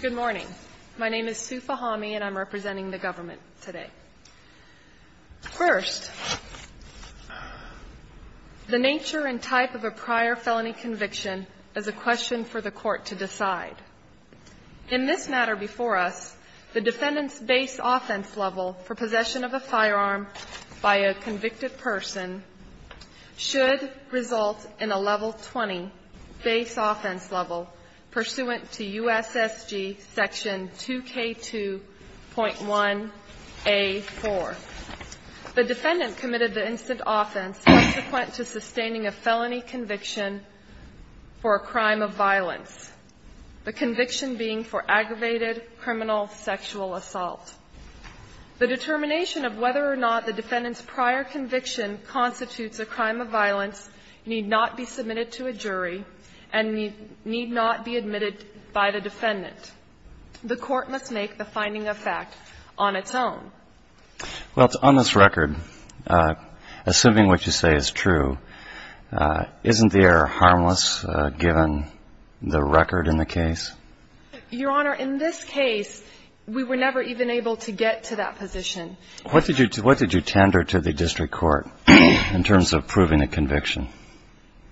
Good morning. My name is Sue Fahami and I'm representing the government today. First, the nature and type of a prior felony conviction is a question for the court to decide. In this matter before us, the defendant's base offense level for possession of a firearm by a convicted person should result in a level 20 base offense level pursuant to USSG section 2K2.1A4. The defendant committed the instant offense subsequent to sustaining a felony conviction for a crime of violence, the conviction being for aggravated criminal sexual assault. The determination of whether or not the defendant's prior conviction constitutes a crime of violence need not be submitted to a jury and need not be admitted by the defendant. The court must make the finding of fact on its own. Well, on this record, assuming what you say is true, isn't the error harmless given the record in the case? Your Honor, in this case, we were never even able to get to that position. What did you tender to the district court in terms of proving a conviction?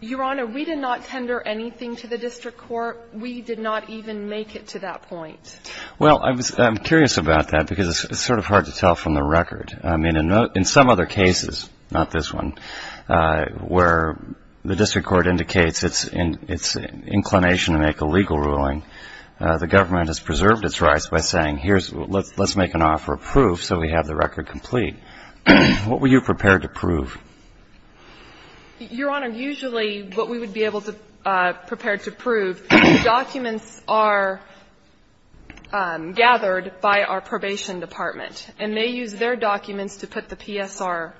Your Honor, we did not tender anything to the district court. We did not even make it to that point. Well, I'm curious about that because it's sort of hard to tell from the record. I mean, in some other cases, not this one, where the district court indicates its inclination to make a legal ruling, the government has preserved its rights by saying, let's make an offer of proof so we have the record complete. What were you prepared to prove? Your Honor, usually what we would be able to prepare to prove, documents are gathered by our probation department. And they use their documents to put the PSR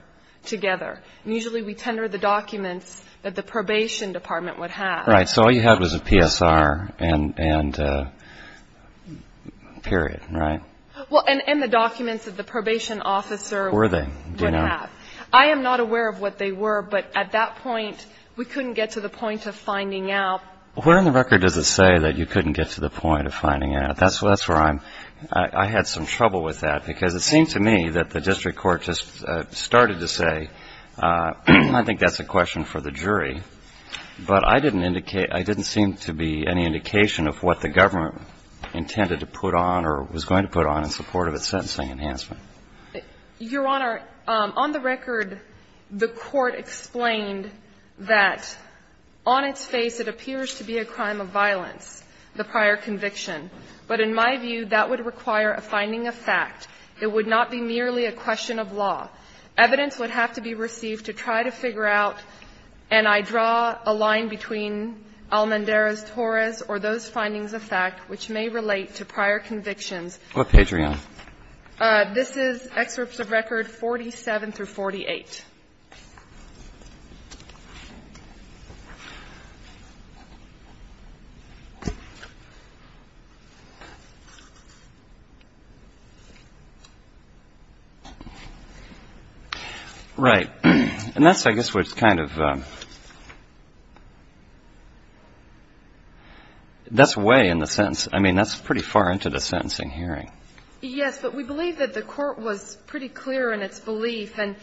together. And usually we tender the documents that the probation department would have. Right. So all you had was a PSR and period, right? Well, and the documents that the probation officer would have. Were they? Do you know? I am not aware of what they were, but at that point, we couldn't get to the point of finding out. Where in the record does it say that you couldn't get to the point of finding out? That's where I'm ‑‑ I had some trouble with that because it seemed to me that the district court just started to say, I think that's a question for the jury. But I didn't indicate, I didn't seem to be any indication of what the government intended to put on or was going to put on in support of its sentencing enhancement. Your Honor, on the record, the Court explained that on its face, it appears to be a crime of violence, the prior conviction. But in my view, that would require a finding of fact. It would not be merely a question of law. Evidence would have to be received to try to figure out, and I draw a line between Almendarez-Torres or those findings of fact which may relate to prior convictions. What page are you on? This is excerpts of record 47 through 48. Right. And that's, I guess, what's kind of ‑‑ that's way in the sentence. I mean, that's pretty far into the sentencing hearing. Yes. But we believe that the Court was pretty clear in its belief. And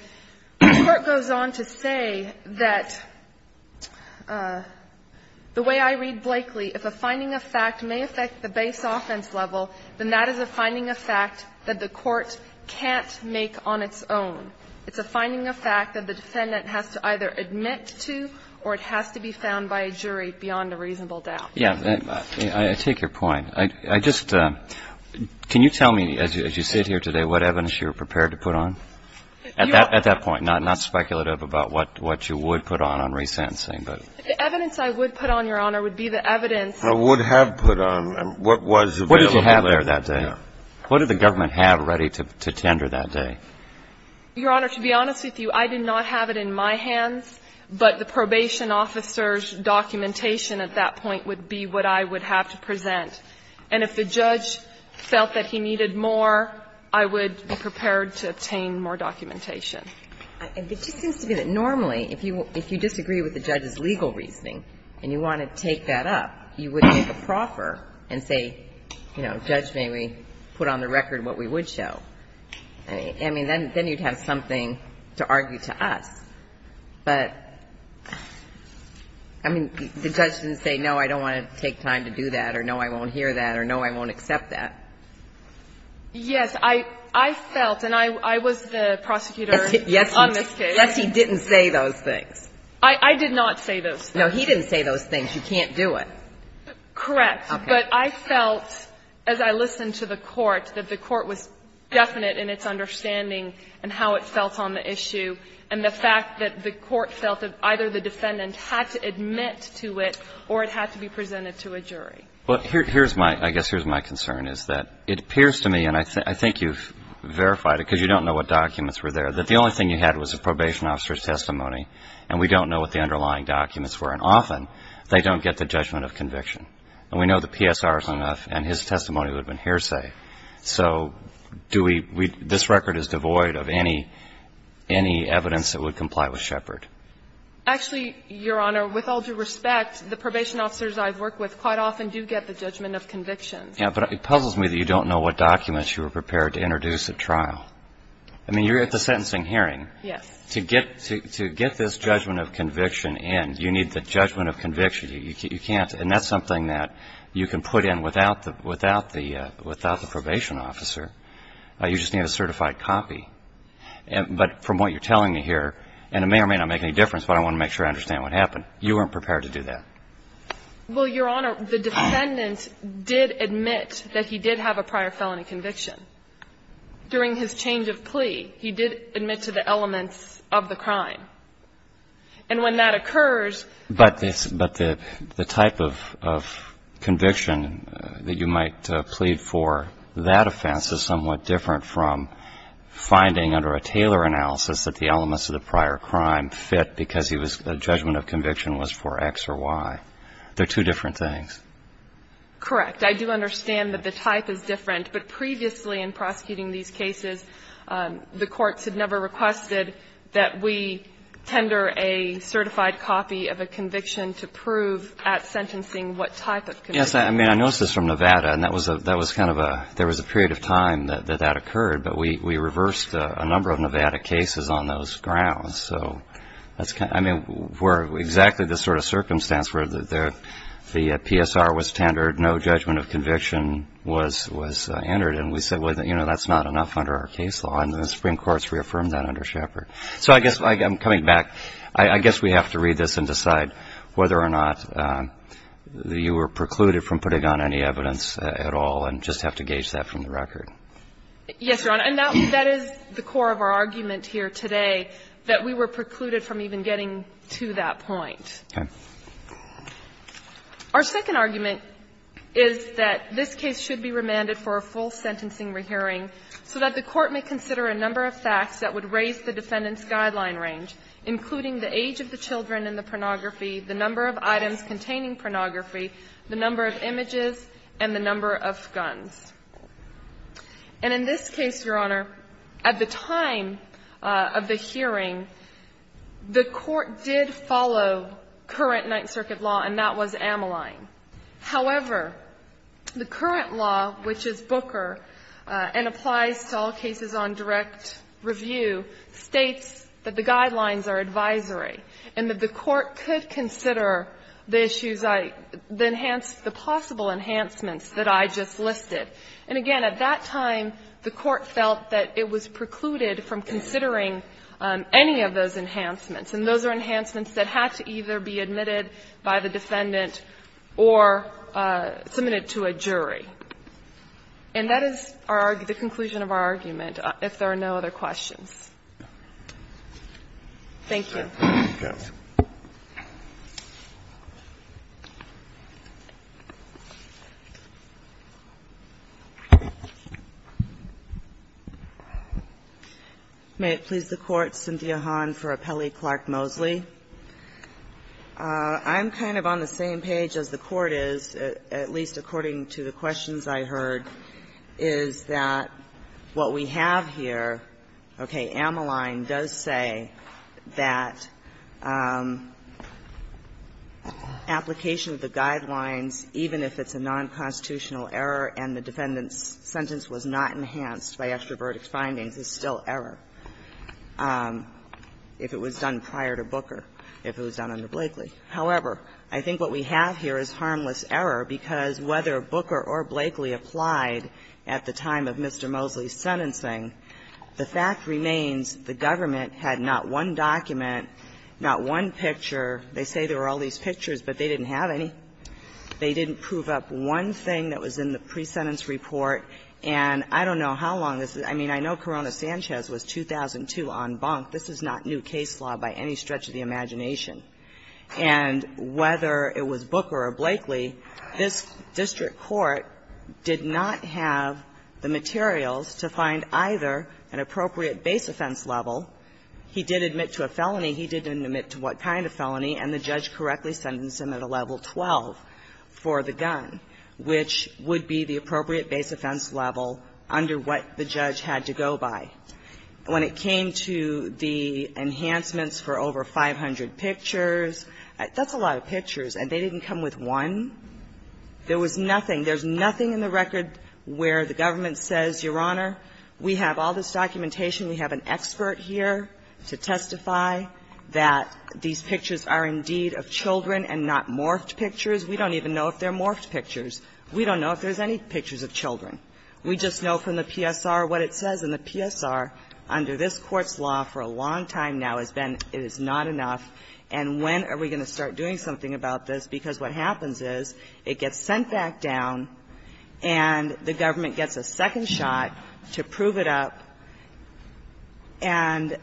the Court goes on to say that the way I read Blakely, if a finding of fact may affect the base offense level, then that is a finding of fact that the Court can't make on its own. It's a finding of fact that the defendant has to either admit to or it has to be found by a jury beyond a reasonable doubt. Yes. I take your point. I just ‑‑ can you tell me, as you sit here today, what evidence you were prepared to put on? At that point, not speculative about what you would put on on resentencing, but ‑‑ The evidence I would put on, Your Honor, would be the evidence ‑‑ Would have put on what was available. What did you have there that day? Yes. What did the government have ready to tender that day? Your Honor, to be honest with you, I did not have it in my hands, but the probation officer's documentation at that point would be what I would have to present. And if the judge felt that he needed more, I would be prepared to obtain more documentation. It just seems to me that normally, if you disagree with the judge's legal reasoning and you want to take that up, you would make a proffer and say, you know, Judge, may we put on the record what we would show. I mean, then you would have something to argue to us. But, I mean, the judge didn't say, no, I don't want to take time to do that or no, I won't hear that or no, I won't accept that. Yes. I felt, and I was the prosecutor on this case. Yes, he didn't say those things. I did not say those things. No, he didn't say those things. You can't do it. Correct. Okay. But I felt, as I listened to the court, that the court was definite in its understanding and how it felt on the issue and the fact that the court felt that either the defendant had to admit to it or it had to be presented to a jury. Well, here's my, I guess here's my concern, is that it appears to me, and I think you've verified it because you don't know what documents were there, that the only thing you had was a probation officer's testimony and we don't know what the underlying documents were, and often they don't get the judgment of conviction. And we know the PSR is not enough and his testimony would have been hearsay. So do we, this record is devoid of any, any evidence that would comply with Shepard. Actually, Your Honor, with all due respect, the probation officers I've worked with quite often do get the judgment of conviction. Yeah, but it puzzles me that you don't know what documents you were prepared to introduce at trial. I mean, you're at the sentencing hearing. Yes. To get this judgment of conviction in, you need the judgment of conviction. You can't. And that's something that you can put in without the probation officer. You just need a certified copy. But from what you're telling me here, and it may or may not make any difference, but I want to make sure I understand what happened, you weren't prepared to do that. Well, Your Honor, the defendant did admit that he did have a prior felony conviction. During his change of plea, he did admit to the elements of the crime. And when that occurs ---- But the type of conviction that you might plead for, that offense is somewhat different from finding under a Taylor analysis that the elements of the prior crime did not fit because the judgment of conviction was for X or Y. They're two different things. Correct. I do understand that the type is different. But previously in prosecuting these cases, the courts had never requested that we tender a certified copy of a conviction to prove at sentencing what type of conviction. Yes, I mean, I noticed this from Nevada, and that was kind of a ---- there was a period of time that that occurred. But we reversed a number of Nevada cases on those grounds. So that's kind of ---- I mean, we're exactly the sort of circumstance where the PSR was tendered, no judgment of conviction was entered. And we said, well, you know, that's not enough under our case law. And the Supreme Court's reaffirmed that under Shepard. So I guess I'm coming back. I guess we have to read this and decide whether or not you were precluded from putting on any evidence at all and just have to gauge that from the record. Yes, Your Honor. And that is the core of our argument here today, that we were precluded from even getting to that point. Okay. Our second argument is that this case should be remanded for a full sentencing rehearing so that the Court may consider a number of facts that would raise the defendant's guideline range, including the age of the children and the pornography, the number of items containing pornography, the number of images, and the number of guns. And in this case, Your Honor, at the time of the hearing, the Court did follow current Ninth Circuit law, and that was Ameline. However, the current law, which is Booker and applies to all cases on direct review, states that the guidelines are advisory and that the Court could consider the issues I – the enhanced – the possible enhancements that I just listed. And again, at that time, the Court felt that it was precluded from considering any of those enhancements, and those are enhancements that had to either be admitted by the defendant or submitted to a jury. And that is our – the conclusion of our argument, if there are no other questions. Thank you. May it please the Court. Cynthia Hahn for Appellee Clark-Moseley. I'm kind of on the same page as the Court is, at least according to the questions I heard, is that what we have here, okay, Ameline does say that application of the guidelines, even if it's a nonconstitutional error and the defendant's However, I think what we have here is harmless error, because whether Booker or Blakely applied at the time of Mr. Moseley's sentencing, the fact remains the government had not one document, not one picture. They say there were all these pictures, but they didn't have any. They didn't prove up one thing that was in the pre-sentence report. And I don't know how long this is. I mean, I know Corona-Sanchez was 2002 en banc. This is not new case law by any stretch of the imagination. And whether it was Booker or Blakely, this district court did not have the materials to find either an appropriate base offense level. He did admit to a felony. He didn't admit to what kind of felony. And the judge correctly sentenced him at a level 12 for the gun, which would be the appropriate base offense level under what the judge had to go by. When it came to the enhancements for over 500 pictures, that's a lot of pictures. And they didn't come with one. There was nothing. There's nothing in the record where the government says, Your Honor, we have all this documentation, we have an expert here to testify that these pictures are indeed of children and not morphed pictures. We don't even know if they're morphed pictures. We don't know if there's any pictures of children. We just know from the PSR what it says. And the PSR, under this Court's law for a long time now, has been it is not enough. And when are we going to start doing something about this? Because what happens is it gets sent back down, and the government gets a second shot to prove it up. And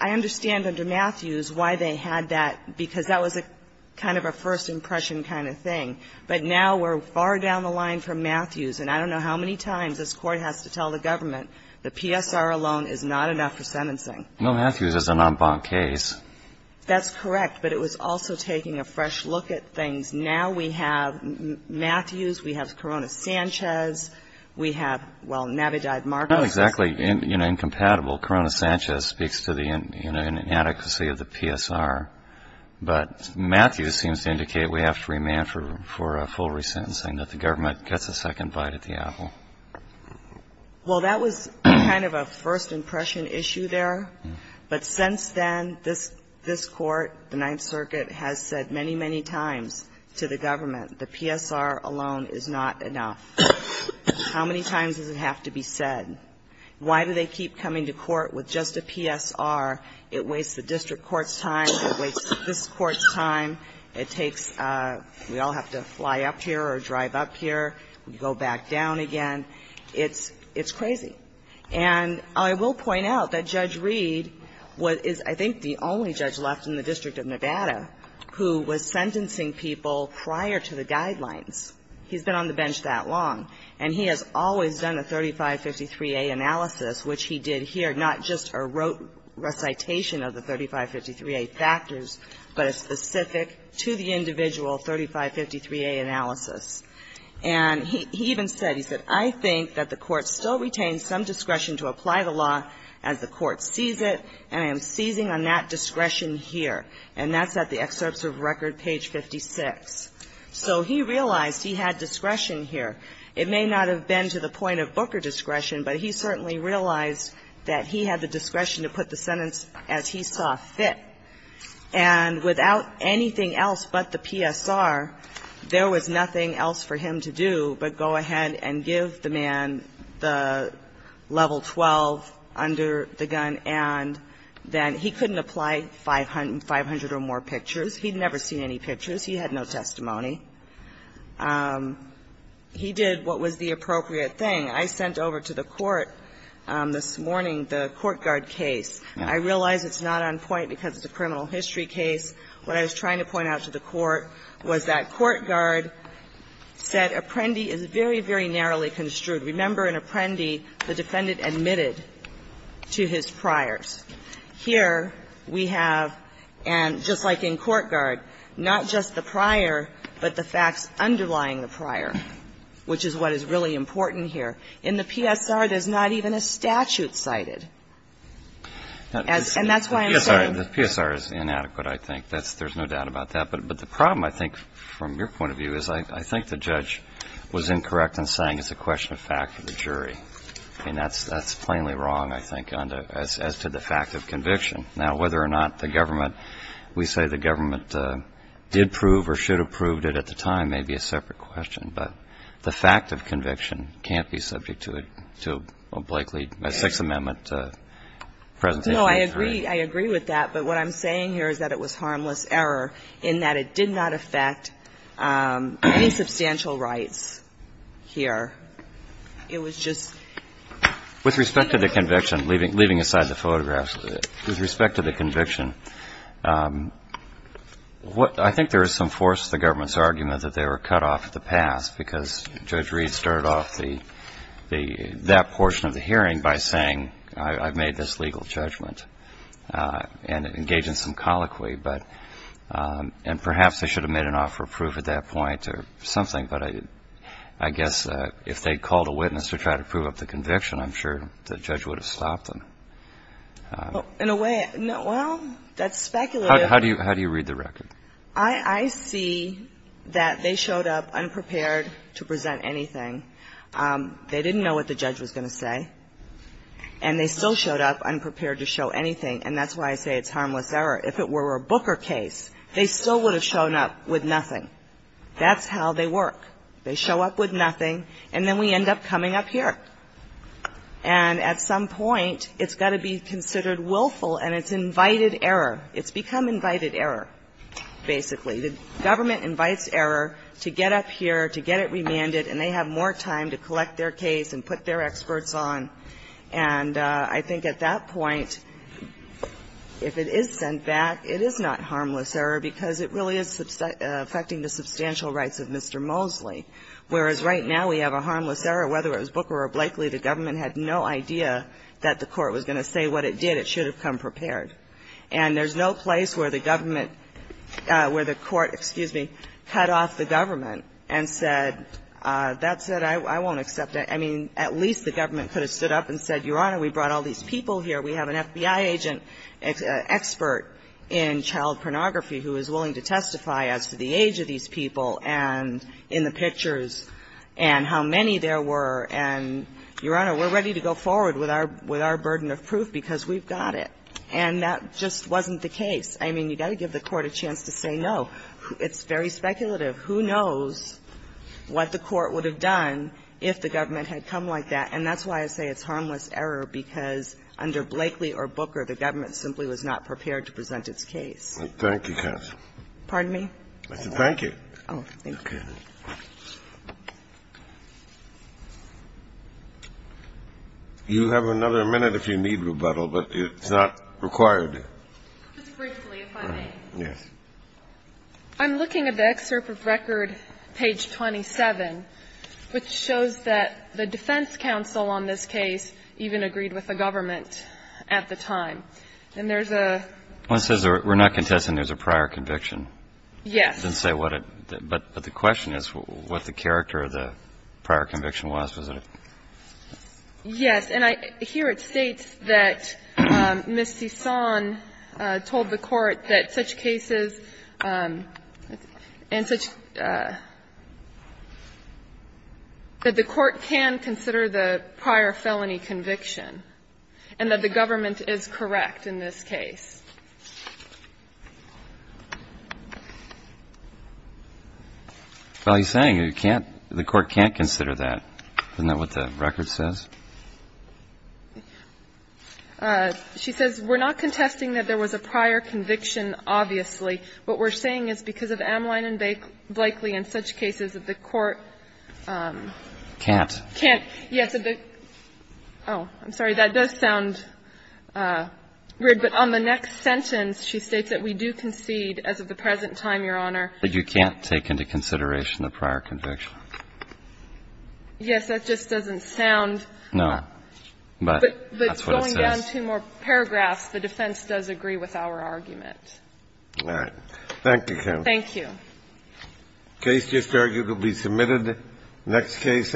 I understand under Matthews why they had that, because that was a kind of a first impression kind of thing. But now we're far down the line from Matthews, and I don't know how many times this Court has to tell the government the PSR alone is not enough for sentencing. No, Matthews is an en banc case. That's correct. But it was also taking a fresh look at things. Now we have Matthews, we have Corona-Sanchez, we have, well, Navidad-Marcos. Not exactly incompatible. Corona-Sanchez speaks to the inadequacy of the PSR. But Matthews seems to indicate we have to remand for a full resentencing, that the government gets a second bite at the apple. Well, that was kind of a first impression issue there. But since then, this Court, the Ninth Circuit, has said many, many times to the government the PSR alone is not enough. How many times does it have to be said? Why do they keep coming to court with just a PSR? It wastes the district court's time. It wastes this Court's time. It takes, we all have to fly up here or drive up here. We go back down again. It's crazy. And I will point out that Judge Reed is, I think, the only judge left in the District of Nevada who was sentencing people prior to the guidelines. He's been on the bench that long. And he has always done a 3553A analysis, which he did here, not just a recitation of the 3553A factors, but a specific to the individual 3553A analysis. And he even said, he said, I think that the Court still retains some discretion to apply the law as the Court sees it, and I am seizing on that discretion here. And that's at the excerpts of record, page 56. So he realized he had discretion here. It may not have been to the point of Booker discretion, but he certainly realized that he had the discretion to put the sentence as he saw fit. And without anything else but the PSR, there was nothing else for him to do but go ahead and give the man the level 12 under the gun, and then he couldn't apply 500 or more pictures. He had never seen any pictures. He had no testimony. He did what was the appropriate thing. I sent over to the Court this morning the Courtguard case. I realize it's not on point because it's a criminal history case. What I was trying to point out to the Court was that Courtguard said Apprendi is very, very narrowly construed. Remember, in Apprendi, the defendant admitted to his priors. Here we have, and just like in Courtguard, not just the prior, but the facts underlying the prior, which is what is really important here. In the PSR, there's not even a statute cited. And that's why I'm saying the PSR is inadequate, I think. There's no doubt about that. But the problem, I think, from your point of view is I think the judge was incorrect in saying it's a question of fact for the jury. I mean, that's plainly wrong, I think, as to the fact of conviction. Now, whether or not the government, we say the government did prove or should have proved it at the time may be a separate question. But the fact of conviction can't be subject to a Blakely, a Sixth Amendment presentation. No, I agree. I agree with that. But what I'm saying here is that it was harmless error in that it did not affect any substantial rights here. It was just ---- With respect to the conviction, leaving aside the photographs, with respect to the conviction, I think there is some force to the government's argument that they were cut off at the pass because Judge Reed started off that portion of the hearing by saying I've made this legal judgment and engaged in some colloquy. And perhaps they should have made an offer of proof at that point or something. But I guess if they called a witness to try to prove up the conviction, I'm sure the judge would have stopped them. In a way, well, that's speculative. How do you read the record? I see that they showed up unprepared to present anything. They didn't know what the judge was going to say. And they still showed up unprepared to show anything. And that's why I say it's harmless error. If it were a Booker case, they still would have shown up with nothing. That's how they work. They show up with nothing, and then we end up coming up here. And at some point, it's got to be considered willful, and it's invited error. It's become invited error, basically. The government invites error to get up here, to get it remanded, and they have more time to collect their case and put their experts on. And I think at that point, if it is sent back, it is not harmless error because it really is affecting the substantial rights of Mr. Mosley. Whereas right now, we have a harmless error. Whether it was Booker or Blakely, the government had no idea that the court was going to say what it did. It should have come prepared. And there's no place where the government, where the court, excuse me, cut off the government and said, that's it, I won't accept it. I mean, at least the government could have stood up and said, Your Honor, we brought all these people here. We have an FBI agent expert in child pornography who is willing to testify as to the age of these people and in the pictures and how many there were. And, Your Honor, we're ready to go forward with our burden of proof because we've got it. And that just wasn't the case. I mean, you've got to give the court a chance to say no. It's very speculative. Who knows what the court would have done if the government had come like that. And that's why I say it's harmless error, because under Blakely or Booker, the government simply was not prepared to present its case. Thank you, counsel. Pardon me? I said thank you. Oh, thank you. Okay. You have another minute if you need rebuttal, but it's not required. Just briefly, if I may. Yes. I'm looking at the excerpt of record page 27, which shows that the defense counsel on this case even agreed with the government at the time. And there's a ---- It says we're not contesting there's a prior conviction. Yes. It doesn't say what it ---- but the question is what the character of the prior conviction was, was it? Yes. And I ---- here it states that Ms. Sison told the court that such cases and such ---- that the court can consider the prior felony conviction and that the government is correct in this case. Well, he's saying you can't ---- the court can't consider that. Isn't that what the record says? She says we're not contesting that there was a prior conviction, obviously. What we're saying is because of Amline and Blakely and such cases that the court can't. Can't. Yes. Oh, I'm sorry. That does sound weird. But on the next sentence, she states that we do concede as of the present time, Your Honor. That you can't take into consideration the prior conviction. Yes. That just doesn't sound ---- No. But that's what it says. But going down two more paragraphs, the defense does agree with our argument. All right. Thank you, Kim. Thank you. The case just arguably submitted. Next case.